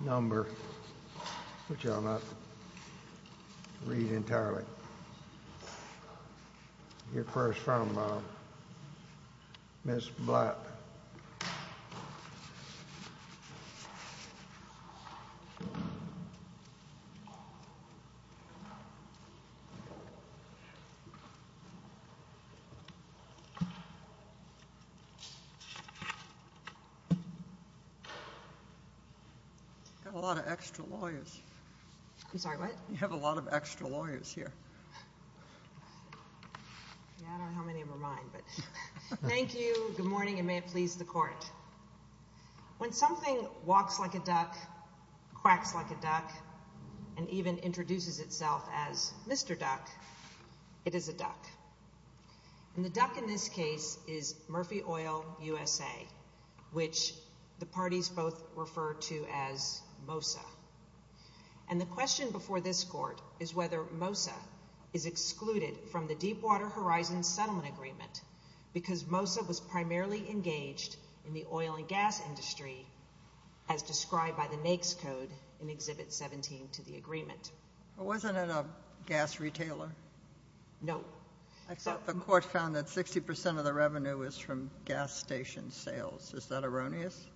Number which I'll not read entirely Your first from Miss black Got a lot of extra lawyers. I'm sorry. What you have a lot of extra lawyers here Thank you, good morning and may it please the court When something walks like a duck Quacks like a duck and even introduces itself as mr. Duck It is a duck And the duck in this case is Murphy oil USA Which the parties both refer to as Mosa and The question before this court is whether Mosa is excluded from the Deepwater Horizon settlement agreement because Mosa was primarily engaged in the oil and gas industry as Described by the NAICS code in exhibit 17 to the agreement. It wasn't a gas retailer No, I thought the court found that 60% of the revenue is from gas station sales, is that erroneous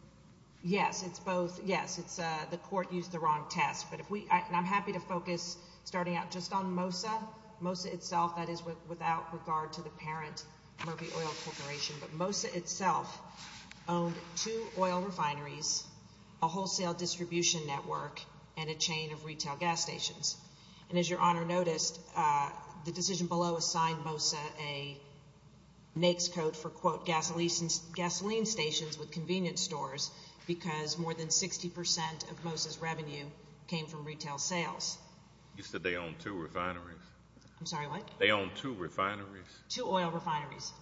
Yes, it's both. Yes It's the court used the wrong test But if we and I'm happy to focus starting out just on Mosa Mosa itself that is without regard to the parent Murphy oil corporation, but Mosa itself Owned two oil refineries a wholesale distribution network and a chain of retail gas stations And as your honor noticed the decision below assigned Mosa a NAICS code for quote gasoline Gasoline stations with convenience stores because more than 60% of Moses revenue came from retail sales You said they own two refineries. I'm sorry what they own two refineries to oil refineries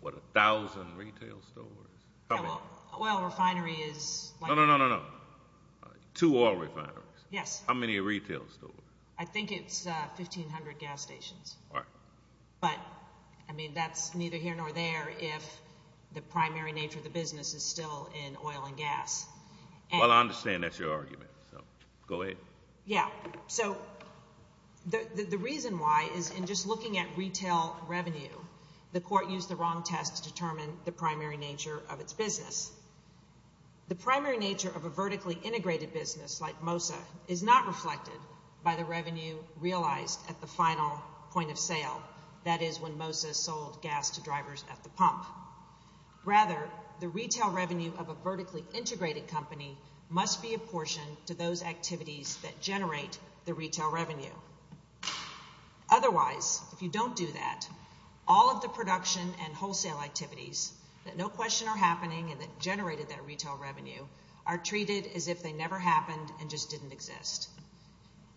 What a thousand retail stores? Well refinery is no no no no Yes, how many retail store I think it's 1,500 gas stations But I mean that's neither here nor there if the primary nature of the business is still in oil and gas Well, I understand. That's your argument. So go ahead. Yeah, so The the reason why is in just looking at retail revenue The court used the wrong test to determine the primary nature of its business The primary nature of a vertically integrated business like Mosa is not reflected by the revenue Realized at the final point of sale. That is when Moses sold gas to drivers at the pump Rather the retail revenue of a vertically integrated company must be apportioned to those activities that generate the retail revenue Otherwise if you don't do that all of the production and wholesale activities That no question are happening and that generated that retail revenue are treated as if they never happened and just didn't exist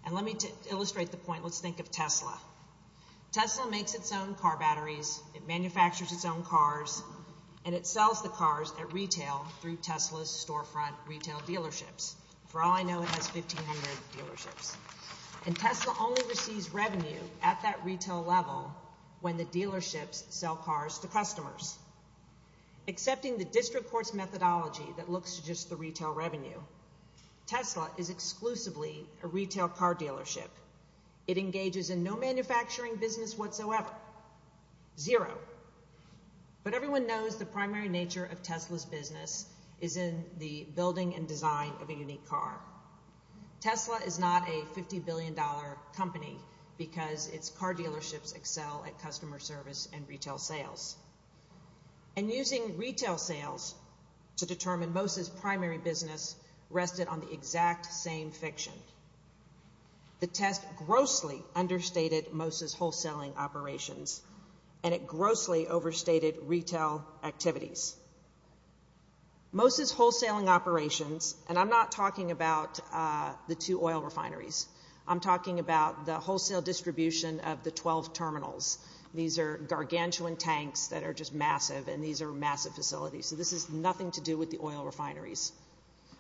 And let me to illustrate the point. Let's think of Tesla Tesla makes its own car batteries It manufactures its own cars and it sells the cars at retail through Tesla's storefront retail dealerships For all I know it has 1500 dealerships and Tesla only receives revenue at that retail level when the dealerships sell cars to customers Accepting the district courts methodology that looks to just the retail revenue Tesla is exclusively a retail car dealership. It engages in no manufacturing business whatsoever zero But everyone knows the primary nature of Tesla's business is in the building and design of a unique car Tesla is not a 50 billion dollar company because it's car dealerships excel at customer service and retail sales And using retail sales to determine most his primary business rested on the exact same fiction The test grossly understated Moses wholesaling operations and it grossly overstated retail activities Moses wholesaling operations and I'm not talking about The two oil refineries. I'm talking about the wholesale distribution of the 12 terminals These are gargantuan tanks that are just massive and these are massive facilities. So this is nothing to do with the oil refineries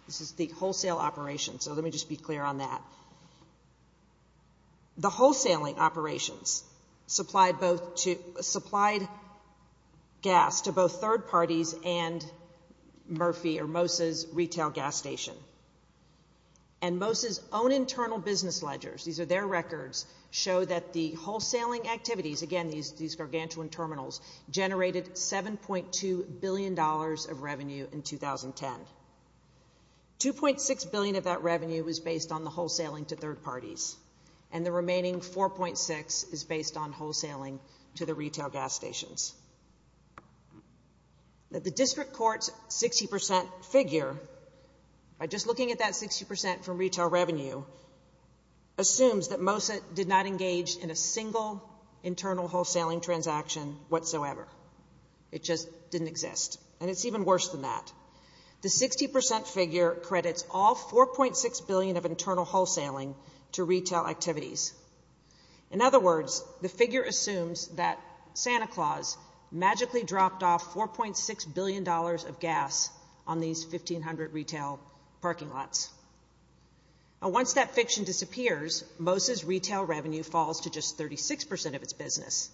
This is the wholesale operation. So let me just be clear on that The wholesaling operations supplied both to supplied gas to both third parties and Murphy or Moses retail gas station and Moses own internal business ledgers. These are their records show that the wholesaling activities again these these gargantuan terminals Generated seven point two billion dollars of revenue in 2010 2.6 billion of that revenue was based on the wholesaling to third parties and the remaining 4.6 is based on wholesaling to the retail gas stations That the district courts 60% figure By just looking at that 60% from retail revenue Assumes that most it did not engage in a single Internal wholesaling transaction whatsoever. It just didn't exist and it's even worse than that The 60% figure credits all 4.6 billion of internal wholesaling to retail activities In other words the figure assumes that Santa Claus Magically dropped off 4.6 billion dollars of gas on these 1,500 retail parking lots Once that fiction disappears Moses retail revenue falls to just 36% of its business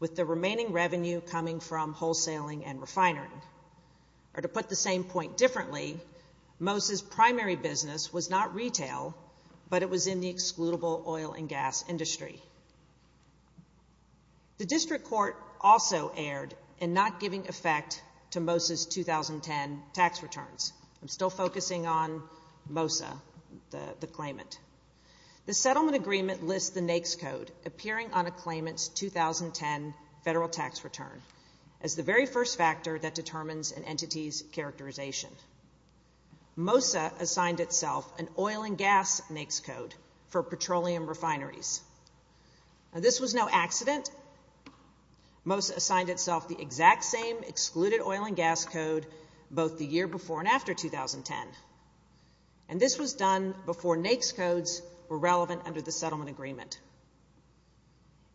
With the remaining revenue coming from wholesaling and refinery Or to put the same point differently Moses primary business was not retail, but it was in the excludable oil and gas industry The district court also aired and not giving effect to Moses 2010 tax returns I'm still focusing on Mosa the the claimant the settlement agreement lists the NAICS code appearing on a claimants 2010 federal tax return as the very first factor that determines an entity's characterization Mosa assigned itself an oil and gas NAICS code for petroleum refineries This was no accident Mosa assigned itself the exact same excluded oil and gas code both the year before and after 2010 and This was done before NAICS codes were relevant under the settlement agreement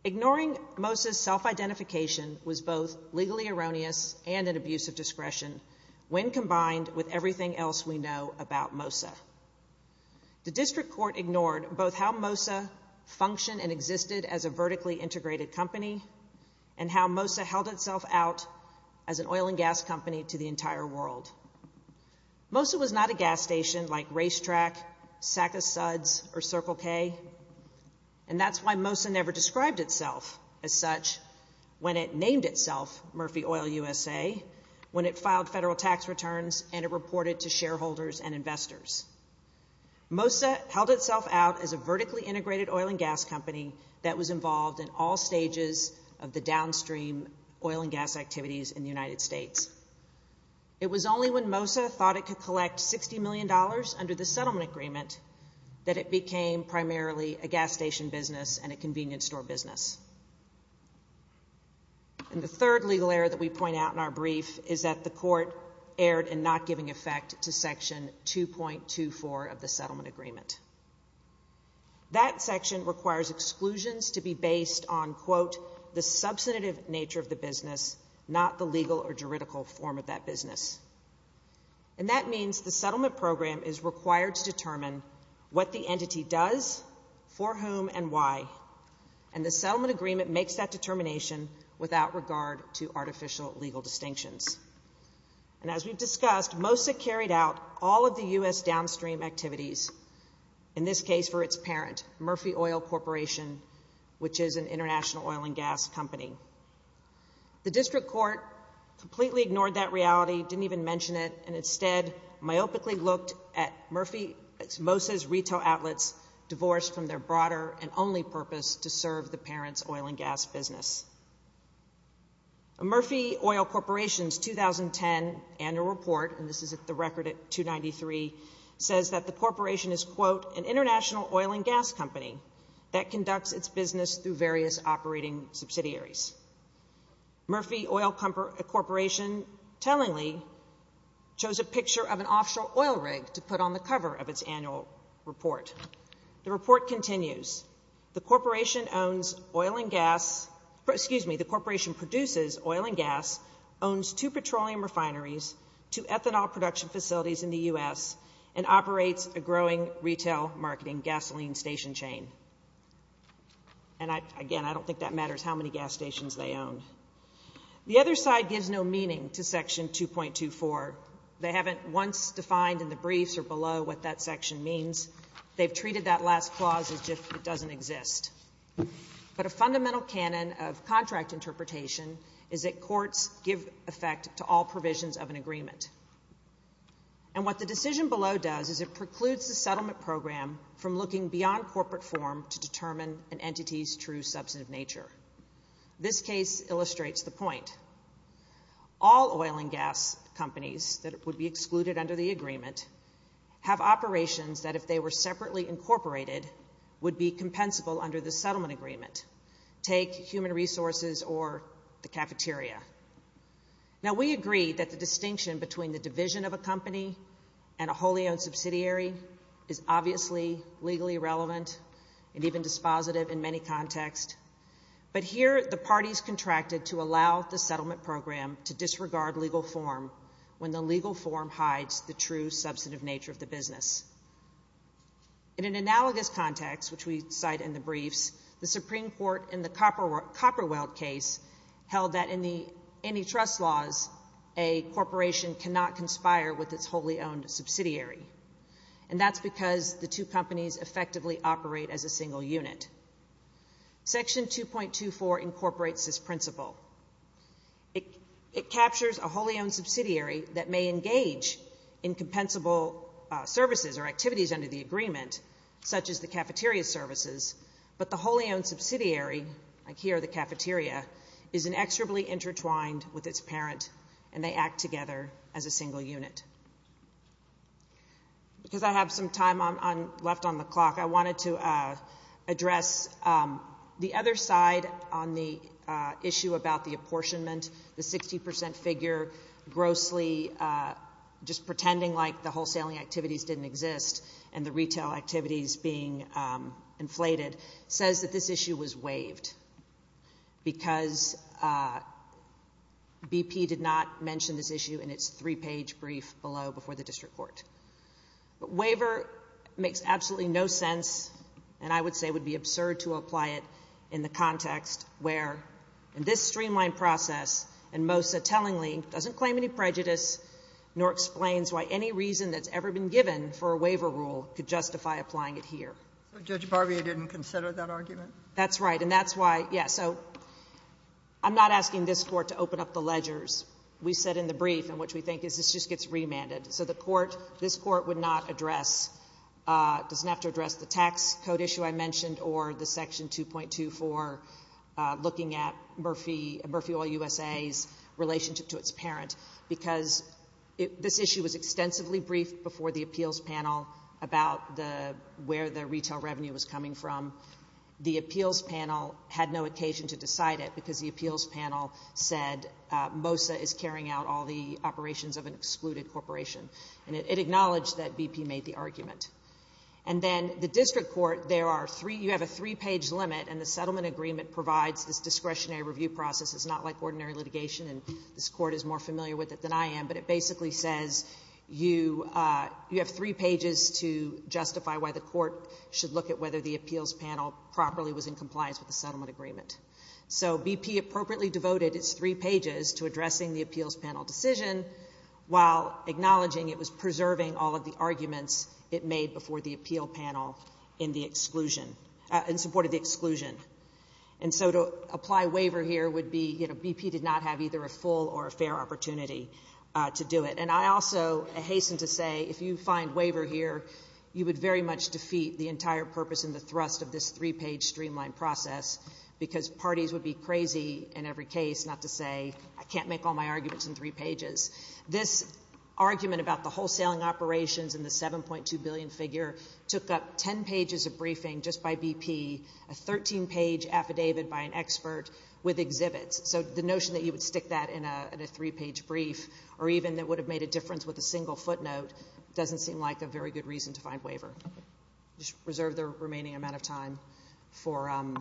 Ignoring Moses self-identification was both legally erroneous and an abuse of discretion When combined with everything else we know about Mosa The district court ignored both how Mosa function and existed as a vertically integrated company and how Mosa held itself out as an oil and gas company to the entire world Mosa was not a gas station like racetrack SACA suds or Circle K and That's why Mosa never described itself as such when it named itself Murphy oil USA When it filed federal tax returns and it reported to shareholders and investors Mosa held itself out as a vertically integrated oil and gas company that was involved in all stages of the downstream oil and gas activities in the United States It was only when Mosa thought it could collect 60 million dollars under the settlement agreement That it became primarily a gas station business and a convenience store business And the third legal error that we point out in our brief is that the court erred and not giving effect to section 2.24 of the settlement agreement That section requires exclusions to be based on quote the substantive nature of the business not the legal or juridical form of that business and that means the settlement program is required to determine what the entity does for whom and why and The settlement agreement makes that determination without regard to artificial legal distinctions And as we've discussed Mosa carried out all of the u.s. Downstream activities in This case for its parent Murphy oil corporation, which is an international oil and gas company the district court Completely ignored that reality didn't even mention it and instead myopically looked at Murphy Moses retail outlets divorced from their broader and only purpose to serve the parents oil and gas business a 2010 annual report and this is at the record at 293 Says that the corporation is quote an international oil and gas company that conducts its business through various operating subsidiaries Murphy oil company a corporation tellingly Chose a picture of an offshore oil rig to put on the cover of its annual report The report continues the corporation owns oil and gas Excuse me the corporation produces oil and gas owns two petroleum refineries to ethanol production facilities in the u.s. and operates a growing retail marketing gasoline station chain and I again, I don't think that matters how many gas stations they own The other side gives no meaning to section 2.2 for they haven't once defined in the briefs or below what that section means They've treated that last clause as if it doesn't exist But a fundamental canon of contract interpretation is that courts give effect to all provisions of an agreement and What the decision below does is it precludes the settlement program from looking beyond corporate form to determine an entity's true substantive nature? This case illustrates the point All oil and gas companies that it would be excluded under the agreement Have operations that if they were separately incorporated would be compensable under the settlement agreement Take human resources or the cafeteria now we agree that the distinction between the division of a company and a wholly owned subsidiary is Obviously legally relevant and even dispositive in many contexts But here the parties contracted to allow the settlement program to disregard legal form When the legal form hides the true substantive nature of the business In an analogous context which we cite in the briefs the Supreme Court in the copper copper weld case held that in the antitrust laws a Corporation cannot conspire with its wholly owned subsidiary and that's because the two companies effectively operate as a single unit section 2.2 for incorporates this principle It it captures a wholly owned subsidiary that may engage in Compensable services or activities under the agreement such as the cafeteria services But the wholly owned subsidiary like here the cafeteria is inexorably intertwined with its parent And they act together as a single unit Because I have some time on left on the clock I wanted to address The other side on the issue about the apportionment the 60% figure grossly Just pretending like the wholesaling activities didn't exist and the retail activities being Inflated says that this issue was waived because BP did not mention this issue in its three-page brief below before the district court Waiver makes absolutely no sense and I would say would be absurd to apply it in the context where In this streamlined process and most so tellingly doesn't claim any prejudice Nor explains why any reason that's ever been given for a waiver rule could justify applying it here That's right and that's why yeah, so I'm not asking this court to open up the ledgers We said in the brief in which we think is this just gets remanded so the court this court would not address Doesn't have to address the tax code issue. I mentioned or the section 2.2 for looking at Murphy Murphy oil USA's relationship to its parent because This issue was extensively briefed before the appeals panel about the where the retail revenue was coming from The appeals panel had no occasion to decide it because the appeals panel said Mosa is carrying out all the operations of an excluded corporation and it acknowledged that BP made the argument and Then the district court there are three you have a three-page limit and the settlement agreement provides this discretionary review process It's not like ordinary litigation and this court is more familiar with it than I am. But it basically says you You have three pages to Justify why the court should look at whether the appeals panel properly was in compliance with the settlement agreement So BP appropriately devoted its three pages to addressing the appeals panel decision While acknowledging it was preserving all of the arguments it made before the appeal panel in the exclusion In support of the exclusion and so to apply waiver here would be you know BP did not have either a full or a fair opportunity to do it And I also a hasten to say if you find waiver here You would very much defeat the entire purpose in the thrust of this three-page streamlined process Because parties would be crazy in every case not to say I can't make all my arguments in three pages this argument about the wholesaling operations in the 7.2 billion figure took up 10 pages of briefing just by BP a 13 page Affidavit by an expert with exhibits So the notion that you would stick that in a three-page brief or even that would have made a difference with a single footnote Doesn't seem like a very good reason to find waiver just reserve the remaining amount of time for I'm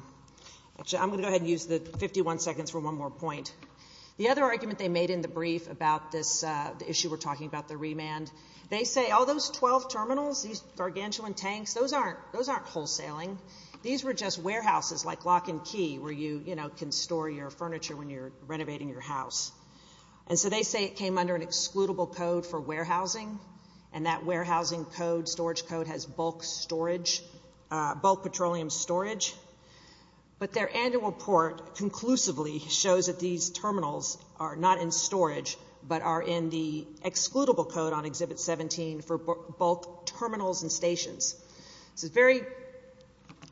gonna go ahead and use the 51 seconds for one more point The other argument they made in the brief about this issue. We're talking about the remand They say all those 12 terminals these gargantuan tanks. Those aren't those aren't wholesaling These were just warehouses like lock and key where you you know can store your furniture when you're renovating your house And so they say it came under an excludable code for warehousing and that warehousing code storage code has bulk storage bulk petroleum storage but their annual report Conclusively shows that these terminals are not in storage But are in the excludable code on exhibit 17 for both terminals and stations. It's a very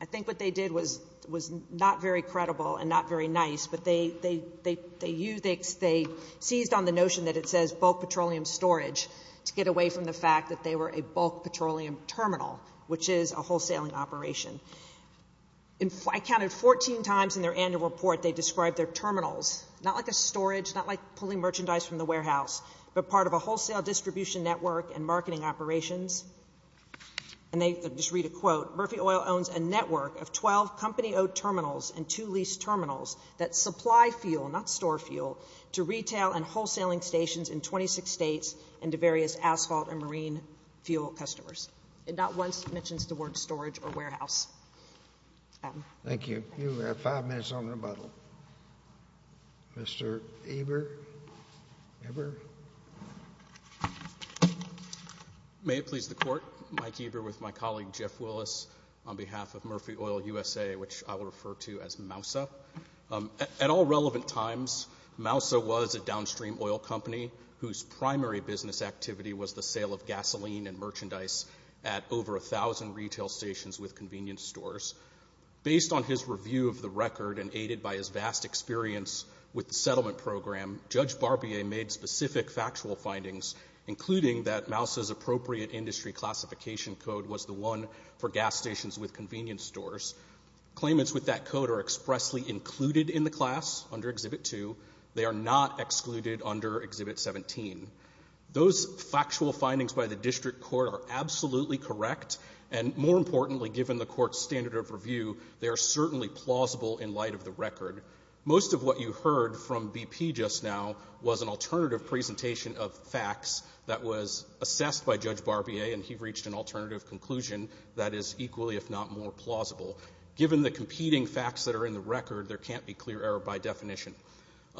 I think what they did was was not very credible and not very nice But they they they they use X they seized on the notion that it says bulk petroleum storage To get away from the fact that they were a bulk petroleum terminal, which is a wholesaling operation In flight counted 14 times in their annual report They described their terminals not like a storage not like pulling merchandise from the warehouse but part of a wholesale distribution network and marketing operations and Just read a quote Murphy oil owns a network of 12 company-owned terminals and to lease terminals that supply fuel not store fuel To retail and wholesaling stations in 26 states and to various asphalt and marine fuel customers It not once mentions the word storage or warehouse Thank you Mr. Eber Ever May it please the court Mike Eber with my colleague Jeff Willis on behalf of Murphy oil USA, which I will refer to as Moussa at all relevant times Moussa was a downstream oil company whose primary business activity was the sale of gasoline and merchandise at over a thousand retail stations with convenience stores Based on his review of the record and aided by his vast experience With the settlement program judge Barbier made specific factual findings Including that Moussa's appropriate industry classification code was the one for gas stations with convenience stores Claimants with that code are expressly included in the class under Exhibit 2. They are not excluded under Exhibit 17 Those factual findings by the district court are absolutely correct and more importantly given the court's standard of review They are certainly plausible in light of the record most of what you heard from BP just now was an alternative presentation of facts that was Assessed by judge Barbier and he reached an alternative conclusion That is equally if not more plausible given the competing facts that are in the record. There can't be clear error by definition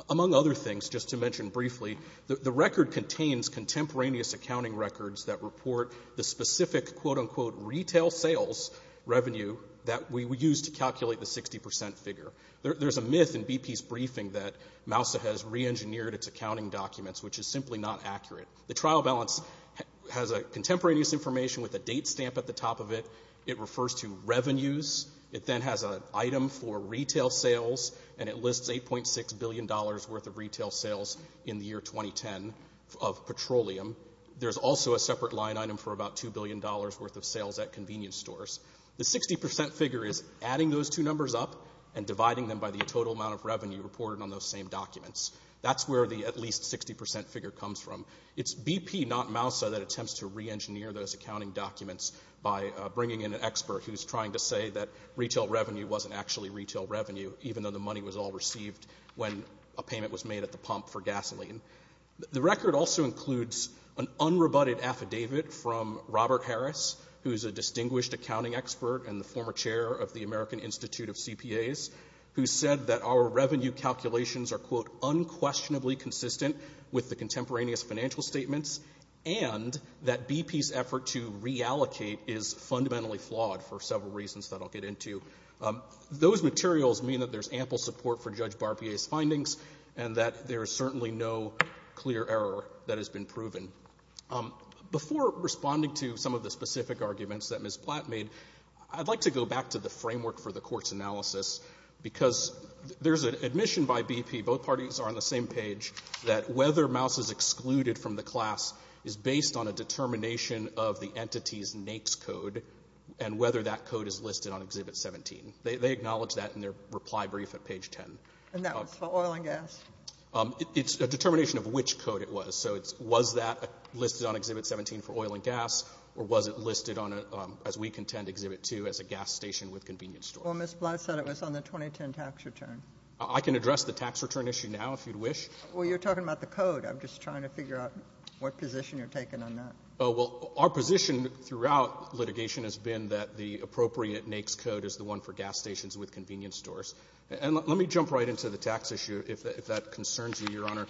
Among other things just to mention briefly the record contains Contemporaneous accounting records that report the specific quote-unquote retail sales Revenue that we would use to calculate the 60% figure There's a myth in BP's briefing that Moussa has re-engineered its accounting documents, which is simply not accurate the trial balance Has a contemporaneous information with a date stamp at the top of it It refers to revenues it then has a item for retail sales and it lists 8.6 billion dollars worth of retail sales in the year 2010 of Petroleum there's also a separate line item for about 2 billion dollars worth of sales at convenience stores The 60% figure is adding those two numbers up and dividing them by the total amount of revenue reported on those same documents That's where the at least 60% figure comes from It's BP not Moussa that attempts to re-engineer those accounting documents by bringing in an expert Who's trying to say that? Retail revenue wasn't actually retail revenue even though the money was all received when a payment was made at the pump for gasoline The record also includes an unrebutted affidavit from Robert Harris Who's a distinguished accounting expert and the former chair of the American Institute of CPAs who said that our revenue calculations are quote? Unquestionably consistent with the contemporaneous financial statements and that BP's effort to reallocate is Fundamentally flawed for several reasons that I'll get into Those materials mean that there's ample support for judge Barbier's findings and that there is certainly no clear error that has been proven Before responding to some of the specific arguments that miss Platt made I'd like to go back to the framework for the court's analysis Because there's an admission by BP both parties are on the same page that whether Mouse is excluded from the class is based on a Determination of the entity's NAICS code and whether that code is listed on exhibit 17 They acknowledge that in their reply brief at page 10 It's a determination of which code it was so it's was that Listed on exhibit 17 for oil and gas or was it listed on it as we contend exhibit 2 as a gas station with convenience Well, miss Blatt said it was on the 2010 tax return. I can address the tax return issue now if you'd wish Well, you're talking about the code. I'm just trying to figure out what position you're taking on that Oh well Our position throughout litigation has been that the appropriate NAICS code is the one for gas stations with convenience stores And let me jump right into the tax issue if that concerns you your honor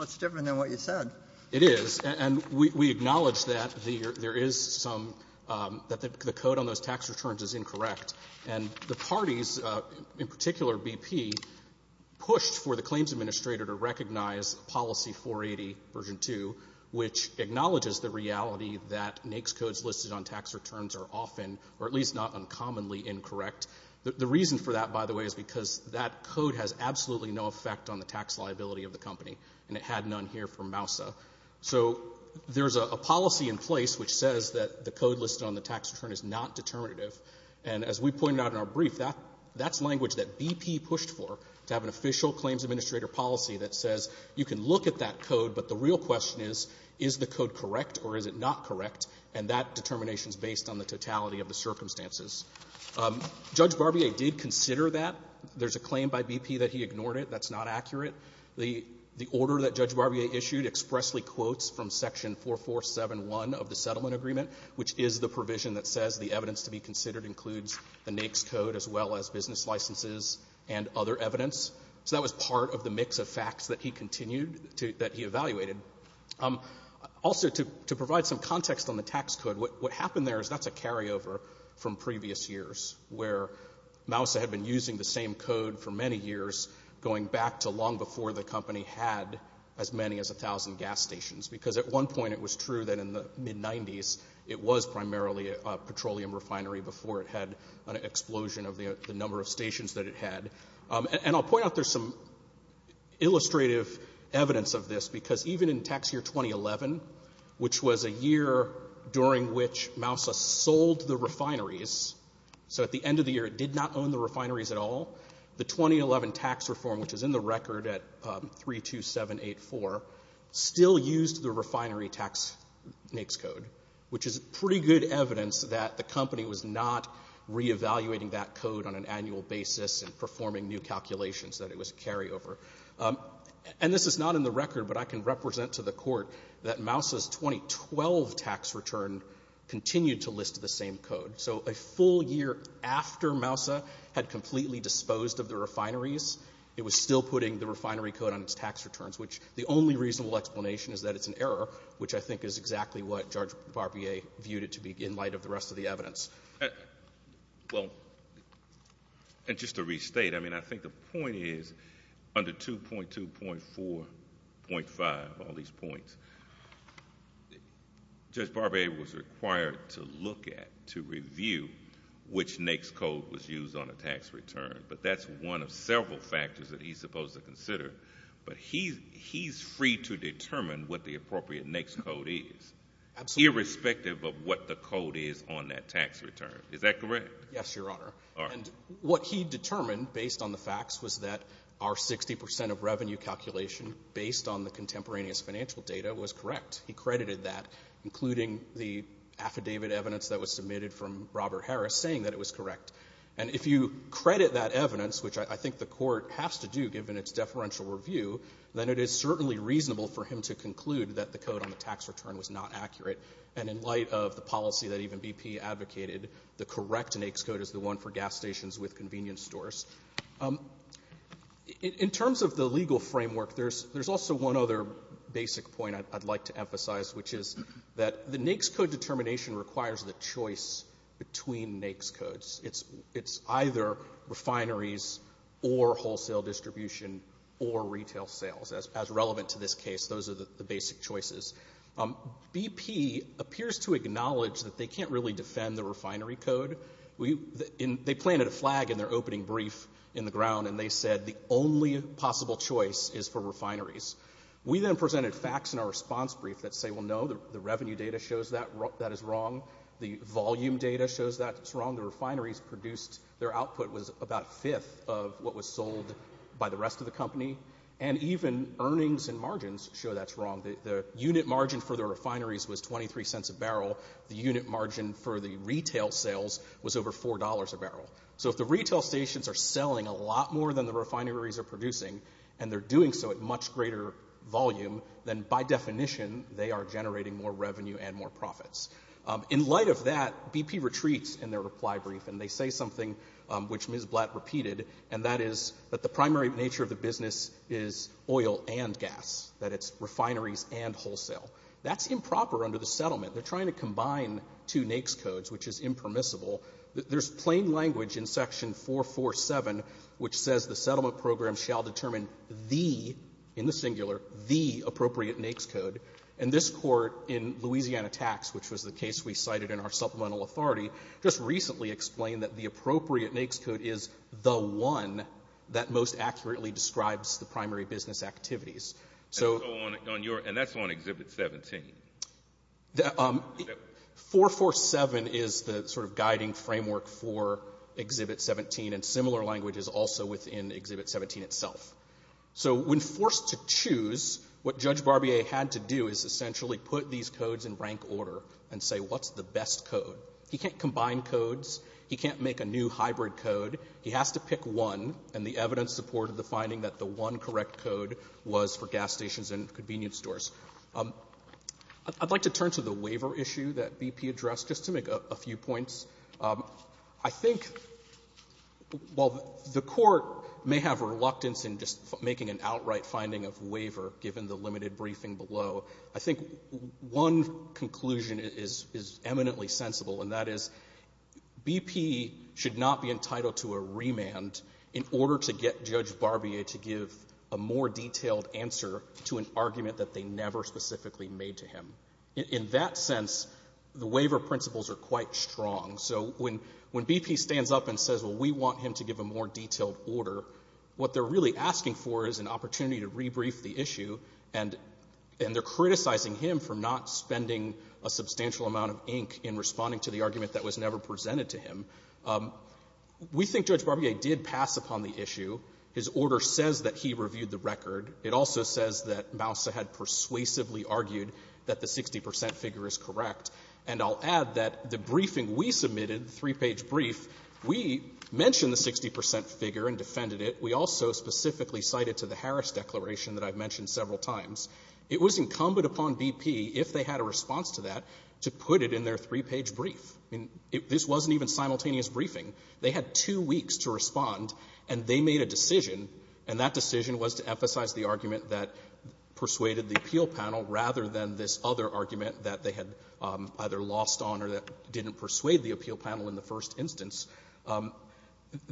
It's different than what you said it is and we acknowledge that the there is some That the code on those tax returns is incorrect and the parties in particular BP pushed for the claims administrator to recognize policy 480 version 2 which Acknowledges the reality that NAICS codes listed on tax returns are often or at least not uncommonly incorrect The reason for that by the way is because that code has absolutely no effect on the tax liability of the company and it had none here for Mousa So there's a policy in place which says that the code listed on the tax return is not Determinative and as we pointed out in our brief that that's language that BP pushed for to have an official claims administrator policy That says you can look at that code But the real question is is the code correct or is it not correct and that determination is based on the totality of the circumstances Judge Barbier did consider that there's a claim by BP that he ignored it That's not accurate the the order that judge Barbier issued expressly quotes from section 4471 of the settlement agreement Which is the provision that says the evidence to be considered includes the NAICS code as well as business licenses and other evidence So that was part of the mix of facts that he continued to that he evaluated Also to provide some context on the tax code what happened there is that's a carryover from previous years where? Mousa had been using the same code for many years Going back to long before the company had as many as a thousand gas stations because at one point it was true that in the Mid-90s it was primarily a petroleum refinery before it had an explosion of the number of stations that it had and I'll point out there's some illustrative evidence of this because even in tax year 2011 Which was a year during which Mousa sold the refineries? So at the end of the year it did not own the refineries at all the 2011 tax reform Which is in the record at three two seven eight four Still used the refinery tax NAICS code, which is pretty good evidence that the company was not Re-evaluating that code on an annual basis and performing new calculations that it was a carryover And this is not in the record, but I can represent to the court that Mousa's 2012 tax return Continued to list the same code so a full year after Mousa had completely disposed of the refineries It was still putting the refinery code on its tax returns Which the only reasonable explanation is that it's an error which I think is exactly what George Barbier Viewed it to be in light of the rest of the evidence well And just to restate. I mean, I think the point is under two point two point four point five all these points The Judge Barbier was required to look at to review Which NAICS code was used on a tax return, but that's one of several factors that he's supposed to consider But he he's free to determine what the appropriate NAICS code is Irrespective of what the code is on that tax return. Is that correct? Yes, your honor and what he determined based on the facts was that our sixty percent of revenue calculation Based on the contemporaneous financial data was correct He credited that including the affidavit evidence that was submitted from Robert Harris saying that it was correct And if you credit that evidence, which I think the court has to do given its deferential review Then it is certainly reasonable for him to conclude that the code on the tax return was not accurate and in light of the policy That even BP advocated the correct NAICS code is the one for gas stations with convenience stores In Terms of the legal framework. There's there's also one other basic point I'd like to emphasize which is that the NAICS code determination requires the choice between NAICS codes It's it's either Refineries or wholesale distribution or retail sales as relevant to this case. Those are the basic choices BP appears to acknowledge that they can't really defend the refinery code We in they planted a flag in their opening brief in the ground and they said the only possible choice is for refineries We then presented facts in our response brief that say well No The revenue data shows that that is wrong the volume data shows that it's wrong the refineries produced their output was about fifth of what was sold by the rest of the company and Even earnings and margins show that's wrong Unit margin for the refineries was 23 cents a barrel the unit margin for the retail sales was over $4 a barrel So if the retail stations are selling a lot more than the refineries are producing and they're doing so at much greater Volume then by definition they are generating more revenue and more profits In light of that BP retreats in their reply brief and they say something Which ms. Blatt repeated and that is that the primary nature of the business is oil and gas that it's refineries And wholesale that's improper under the settlement. They're trying to combine two NAICS codes, which is impermissible There's plain language in section 447 which says the settlement program shall determine the in the singular the appropriate NAICS code and this court in Louisiana tax which was the case we cited in our supplemental authority just recently explained that the appropriate NAICS code is the one That most accurately describes the primary business activities So on your and that's on exhibit 17 the 447 is the sort of guiding framework for Exhibit 17 and similar languages also within exhibit 17 itself so when forced to choose What judge Barbier had to do is essentially put these codes in rank order and say what's the best code? He can't combine codes. He can't make a new hybrid code He has to pick one and the evidence supported the finding that the one correct code was for gas stations and convenience stores I'd like to turn to the waiver issue that BP addressed just to make a few points. I think Well, the court may have reluctance in just making an outright finding of waiver given the limited briefing below I think one conclusion is is eminently sensible and that is BP should not be entitled to a remand in order to get judge Barbier to give a more detailed answer to an argument that they never specifically made to him In that sense, the waiver principles are quite strong So when when BP stands up and says well, we want him to give a more detailed order what they're really asking for is an opportunity to rebrief the issue and And they're criticizing him for not spending a substantial amount of ink in responding to the argument that was never presented to him We think judge Barbier did pass upon the issue. His order says that he reviewed the record It also says that Moussa had persuasively argued that the 60% figure is correct And I'll add that the briefing we submitted, the three-page brief, we mentioned the 60% figure and defended it We also specifically cited to the Harris declaration that I've mentioned several times It was incumbent upon BP, if they had a response to that, to put it in their three-page brief This wasn't even simultaneous briefing They had two weeks to respond and they made a decision And that decision was to emphasize the argument that persuaded the appeal panel rather than this other argument that they had either lost on or that didn't persuade the appeal panel in the first instance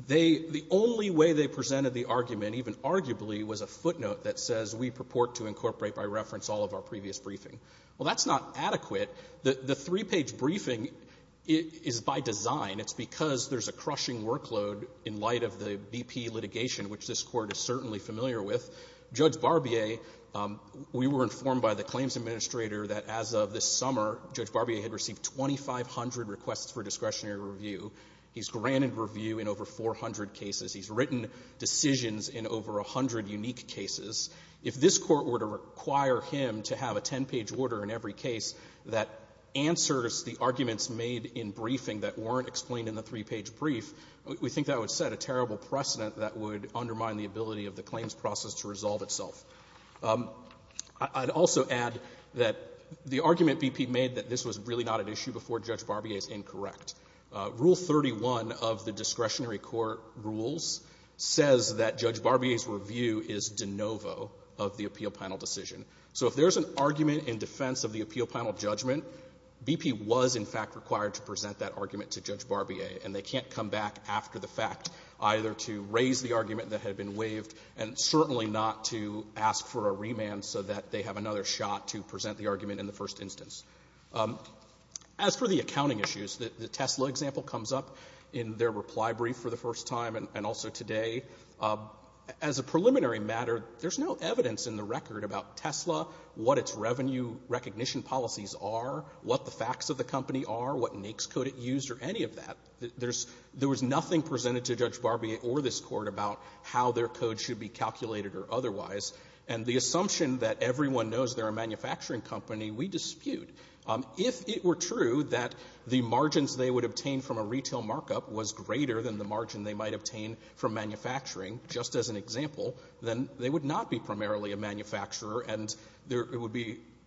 The only way they presented the argument, even arguably, was a footnote that says we purport to incorporate by reference all of our previous briefing Well, that's not adequate The three-page briefing is by design It's because there's a crushing workload in light of the BP litigation, which this Court is certainly familiar with Judge Barbier, we were informed by the claims administrator that as of this summer Judge Barbier had received 2,500 requests for discretionary review He's granted review in over 400 cases He's written decisions in over 100 unique cases If this Court were to require him to have a 10-page order in every case that answers the arguments made in briefing that weren't explained in the three-page brief, we think that would set a terrible precedent that would undermine the ability of the claims process to resolve itself I'd also add that the argument BP made that this was really not an issue before Judge Barbier is incorrect Rule 31 of the discretionary court rules says that Judge Barbier's review is de novo of the appeal panel decision So if there's an argument in defense of the appeal panel judgment, BP was in fact required to present that argument to Judge Barbier and they can't come back after the fact either to raise the argument that had been waived and certainly not to ask for a remand so that they have another shot to present the argument in the first instance As for the accounting issues, the Tesla example comes up in their reply brief for the first time and also today As a preliminary matter, there's no evidence in the record about Tesla, what its revenue recognition policies are what the facts of the company are, what NAICS code it used or any of that There was nothing presented to Judge Barbier or this Court about how their code should be calculated or otherwise And the assumption that everyone knows they're a manufacturing company, we dispute If it were true that the margins they would obtain from a retail markup was greater than the margin they might obtain from manufacturing just as an example, then they would not be primarily a manufacturer and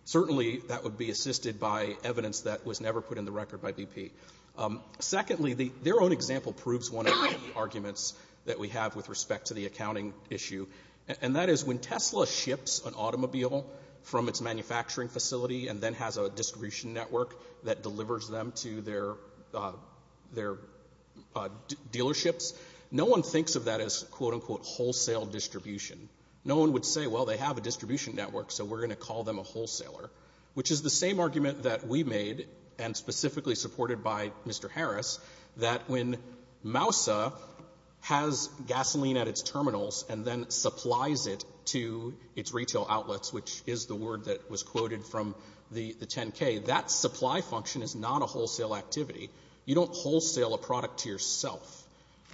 certainly that would be assisted by evidence that was never put in the record by BP Secondly, their own example proves one of the arguments that we have with respect to the accounting issue And that is when Tesla ships an automobile from its manufacturing facility and then has a distribution network that delivers them to their dealerships No one thinks of that as quote-unquote wholesale distribution No one would say, well, they have a distribution network so we're going to call them a wholesaler Which is the same argument that we made and specifically supported by Mr. Harris That when Moussa has gasoline at its terminals and then supplies it to its retail outlets Which is the word that was quoted from the 10K, that supply function is not a wholesale activity You don't wholesale a product to yourself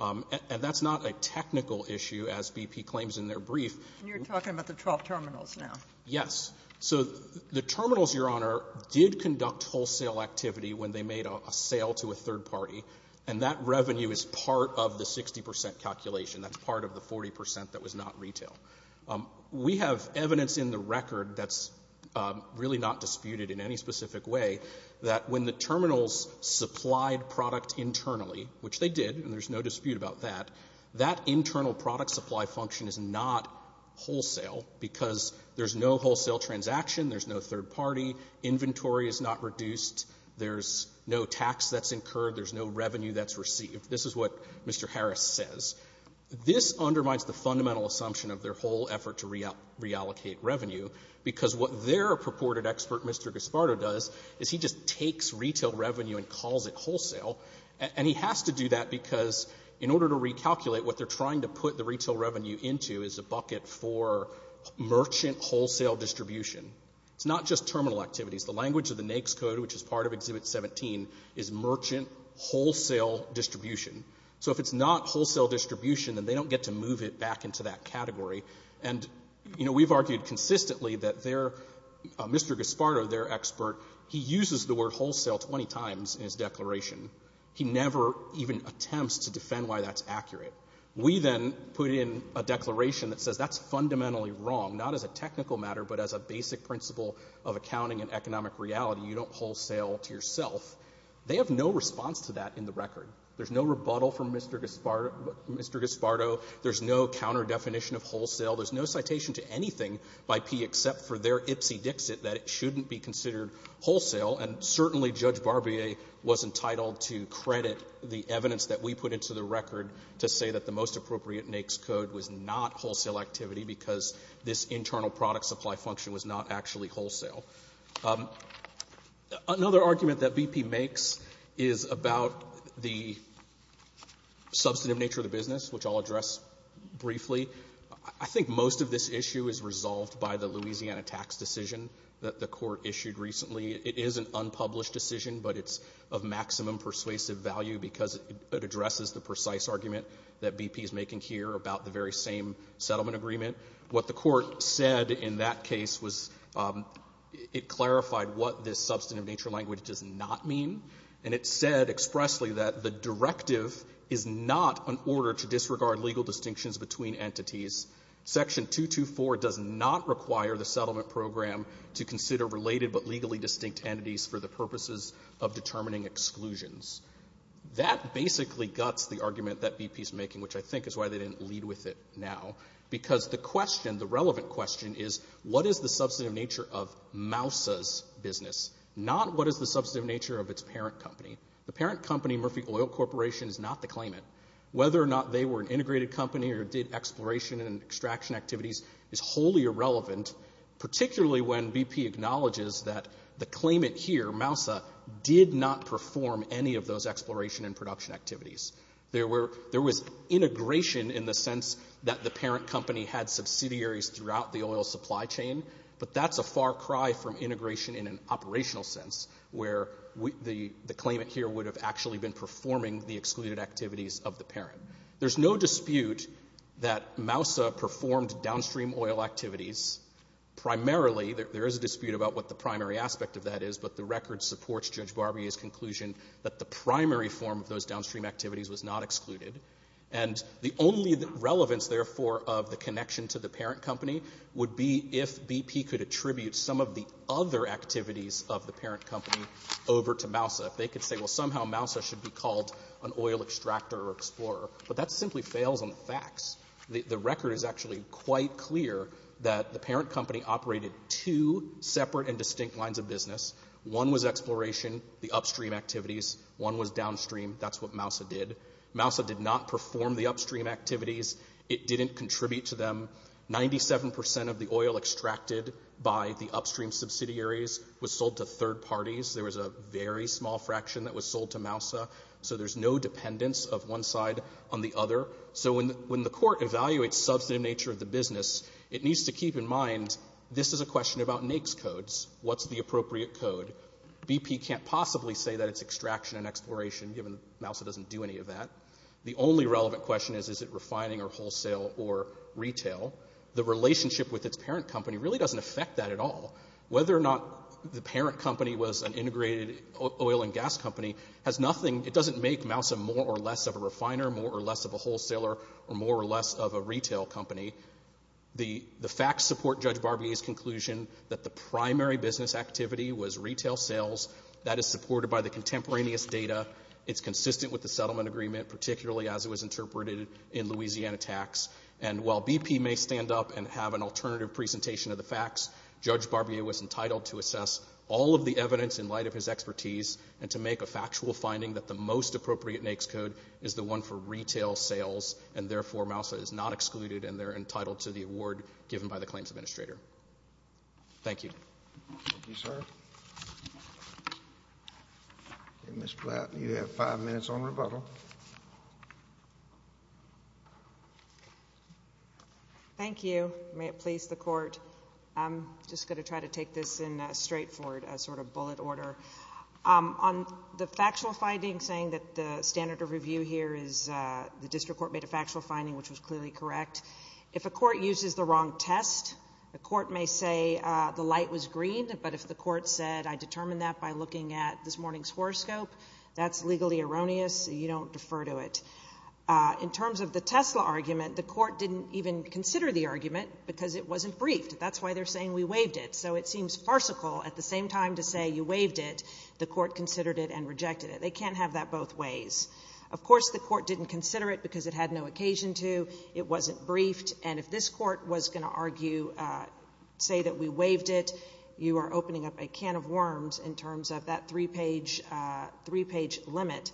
And that's not a technical issue as BP claims in their brief And you're talking about the 12 terminals now Yes, so the terminals, Your Honor, did conduct wholesale activity when they made a sale to a third party And that revenue is part of the 60% calculation That's part of the 40% that was not retail We have evidence in the record that's really not disputed in any specific way That when the terminals supplied product internally, which they did and there's no dispute about that That internal product supply function is not wholesale Because there's no wholesale transaction, there's no third party Inventory is not reduced, there's no tax that's incurred, there's no revenue that's received This is what Mr. Harris says This undermines the fundamental assumption of their whole effort to reallocate revenue Because what their purported expert, Mr. Gaspardo, does Is he just takes retail revenue and calls it wholesale And he has to do that because in order to recalculate what they're trying to put the retail revenue into Is a bucket for merchant wholesale distribution It's not just terminal activities The language of the NAICS code, which is part of Exhibit 17, is merchant wholesale distribution So if it's not wholesale distribution, then they don't get to move it back into that category And, you know, we've argued consistently that Mr. Gaspardo, their expert He uses the word wholesale 20 times in his declaration He never even attempts to defend why that's accurate We then put in a declaration that says that's fundamentally wrong Not as a technical matter, but as a basic principle of accounting and economic reality You don't wholesale to yourself They have no response to that in the record There's no rebuttal from Mr. Gaspardo There's no counter-definition of wholesale There's no citation to anything by P. except for their ipsy-dixit That it shouldn't be considered wholesale And certainly Judge Barbier was entitled to credit the evidence that we put into the record To say that the most appropriate NAICS code was not wholesale activity Because this internal product supply function was not actually wholesale Another argument that BP makes is about the substantive nature of the business Which I'll address briefly I think most of this issue is resolved by the Louisiana tax decision that the court issued recently It is an unpublished decision, but it's of maximum persuasive value Because it addresses the precise argument that BP is making here about the very same settlement agreement What the court said in that case was it clarified what this substantive nature language does not mean And it said expressly that the directive is not an order to disregard legal distinctions between entities Section 224 does not require the settlement program to consider related but legally distinct entities For the purposes of determining exclusions That basically guts the argument that BP's making, which I think is why they didn't lead with it now Because the question, the relevant question is what is the substantive nature of Mousa's business Not what is the substantive nature of its parent company The parent company, Murphy Oil Corporation, is not the claimant Whether or not they were an integrated company or did exploration and extraction activities is wholly irrelevant Particularly when BP acknowledges that the claimant here, Mousa, did not perform any of those exploration and production activities There was integration in the sense that the parent company had subsidiaries throughout the oil supply chain But that's a far cry from integration in an operational sense Where the claimant here would have actually been performing the excluded activities of the parent There's no dispute that Mousa performed downstream oil activities Primarily, there is a dispute about what the primary aspect of that is But the record supports Judge Barbier's conclusion that the primary form of those downstream activities was not excluded And the only relevance, therefore, of the connection to the parent company Would be if BP could attribute some of the other activities of the parent company over to Mousa If they could say, well, somehow Mousa should be called an oil extractor or explorer But that simply fails on the facts The record is actually quite clear that the parent company operated two separate and distinct lines of business One was exploration, the upstream activities One was downstream, that's what Mousa did Mousa did not perform the upstream activities It didn't contribute to them 97% of the oil extracted by the upstream subsidiaries was sold to third parties There was a very small fraction that was sold to Mousa So there's no dependence of one side on the other So when the court evaluates substantive nature of the business It needs to keep in mind, this is a question about NAICS codes What's the appropriate code? BP can't possibly say that it's extraction and exploration Given Mousa doesn't do any of that The only relevant question is, is it refining or wholesale or retail? The relationship with its parent company really doesn't affect that at all Whether or not the parent company was an integrated oil and gas company It doesn't make Mousa more or less of a refiner More or less of a wholesaler Or more or less of a retail company The facts support Judge Barbier's conclusion That the primary business activity was retail sales That is supported by the contemporaneous data It's consistent with the settlement agreement Particularly as it was interpreted in Louisiana tax And while BP may stand up and have an alternative presentation of the facts Judge Barbier was entitled to assess all of the evidence in light of his expertise And to make a factual finding that the most appropriate NAICS code Is the one for retail sales And therefore Mousa is not excluded And they're entitled to the award given by the claims administrator Thank you Thank you, sir Ms. Platt, you have five minutes on rebuttal Thank you. May it please the court I'm just going to try to take this in a straightforward sort of bullet order On the factual finding saying that the standard of review here is The district court made a factual finding which was clearly correct If a court uses the wrong test The court may say the light was green But if the court said I determined that by looking at this morning's horoscope That's legally erroneous. You don't defer to it In terms of the Tesla argument The court didn't even consider the argument Because it wasn't briefed That's why they're saying we waived it So it seems farcical at the same time to say you waived it The court considered it and rejected it They can't have that both ways Of course the court didn't consider it because it had no occasion to It wasn't briefed And if this court was going to argue Say that we waived it You are opening up a can of worms In terms of that three-page limit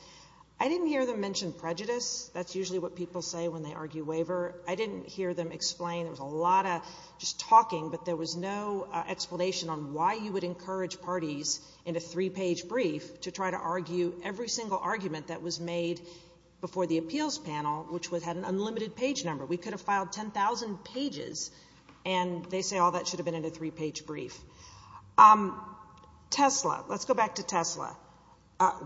I didn't hear them mention prejudice That's usually what people say when they argue waiver I didn't hear them explain It was a lot of just talking But there was no explanation on why you would encourage parties In a three-page brief To try to argue every single argument that was made Before the appeals panel Which had an unlimited page number We could have filed 10,000 pages And they say all that should have been in a three-page brief Tesla Let's go back to Tesla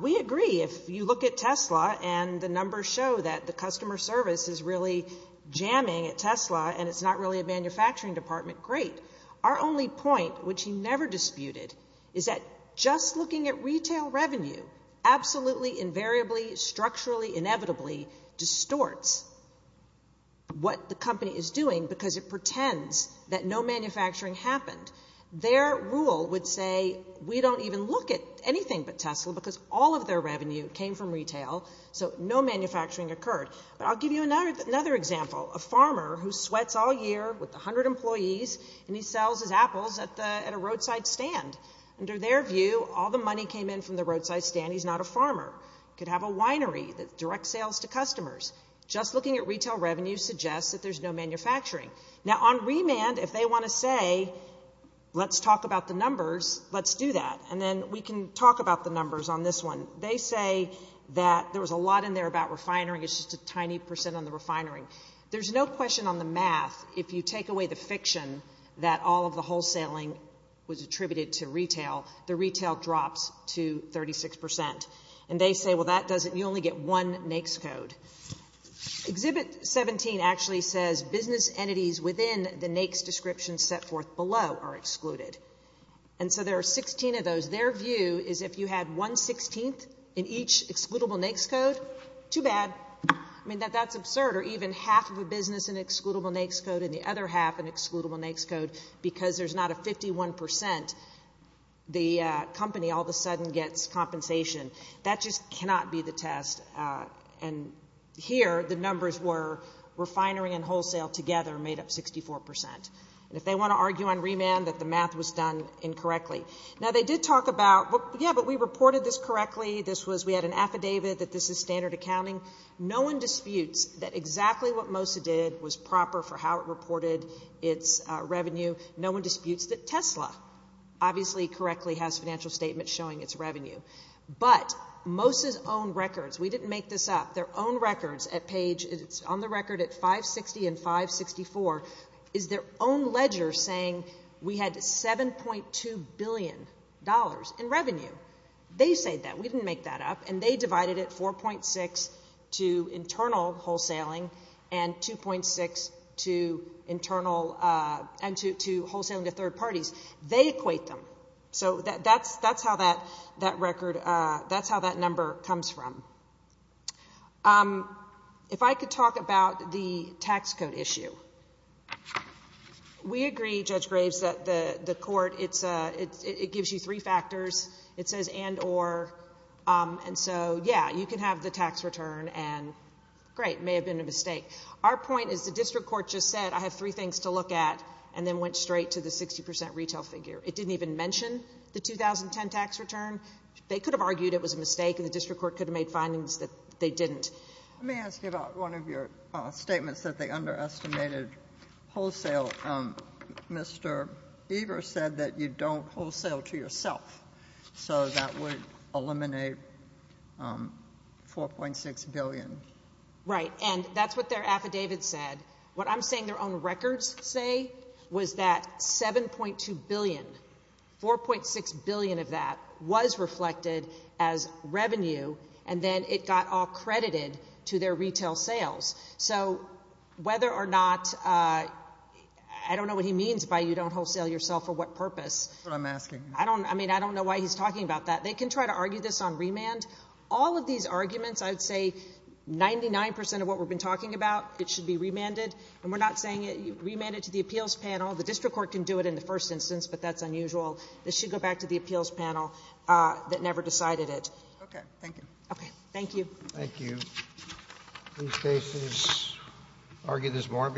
We agree if you look at Tesla And the numbers show that the customer service Is really jamming at Tesla And it's not really a manufacturing department Great Our only point which he never disputed Is that just looking at retail revenue Absolutely, invariably, structurally, inevitably Distorts What the company is doing Because it pretends that no manufacturing happened Their rule would say We don't even look at anything but Tesla Because all of their revenue came from retail So no manufacturing occurred But I'll give you another example A farmer who sweats all year With 100 employees And he sells his apples at a roadside stand Under their view All the money came in from the roadside stand He's not a farmer He could have a winery Direct sales to customers Just looking at retail revenue Suggests that there's no manufacturing Now on remand, if they want to say Let's talk about the numbers Let's do that And then we can talk about the numbers on this one They say that there was a lot in there about refinery It's just a tiny percent on the refinery There's no question on the math If you take away the fiction That all of the wholesaling Was attributed to retail The retail drops to 36% And they say, well that doesn't You only get one NAICS code Exhibit 17 actually says Business entities within the NAICS description Set forth below are excluded And so there are 16 of those Their view is if you had 1 16th In each excludable NAICS code Too bad I mean, that's absurd Or even half of a business in excludable NAICS code And the other half in excludable NAICS code Because there's not a 51% The company all of a sudden Gets compensation That just cannot be the test And here The numbers were refinery and wholesale Together made up 64% And if they want to argue on remand That the math was done incorrectly Now they did talk about Yeah, but we reported this correctly This was, we had an affidavit That this is standard accounting No one disputes that exactly what Mosa did Was proper for how it reported Its revenue No one disputes that Tesla Obviously correctly has financial statements Showing its revenue But Mosa's own records We didn't make this up Their own records at page It's on the record at 560 and 564 Is their own ledger saying We had $7.2 billion In revenue They say that, we didn't make that up And they divided it 4.6 To internal wholesaling And 2.6 to Internal And to wholesaling to third parties They equate them So that's how that record That's how that number comes from If I could talk about the tax code issue We agree, Judge Graves The court, it's It gives you three factors It says and or And so yeah, you can have the tax return And great, may have been a mistake Our point is the district court just said I have three things to look at And then went straight to the 60% retail figure It didn't even mention the 2010 tax return They could have argued it was a mistake And the district court could have made findings That they didn't Let me ask you about one of your statements That they underestimated wholesale So Mr. Evers Said that you don't wholesale to yourself So that would Eliminate 4.6 billion Right, and that's what their affidavit said What I'm saying their own records Say was that 7.2 billion 4.6 billion of that Was reflected as Revenue and then it got all credited To their retail sales So whether or not I don't know what he means By you don't wholesale yourself for what purpose That's what I'm asking I don't know why he's talking about that They can try to argue this on remand All of these arguments I'd say 99% of what we've been talking about It should be remanded And we're not saying remand it to the appeals panel The district court can do it in the first instance But that's unusual It should go back to the appeals panel That never decided it Okay, thank you Thank you These cases Argue this more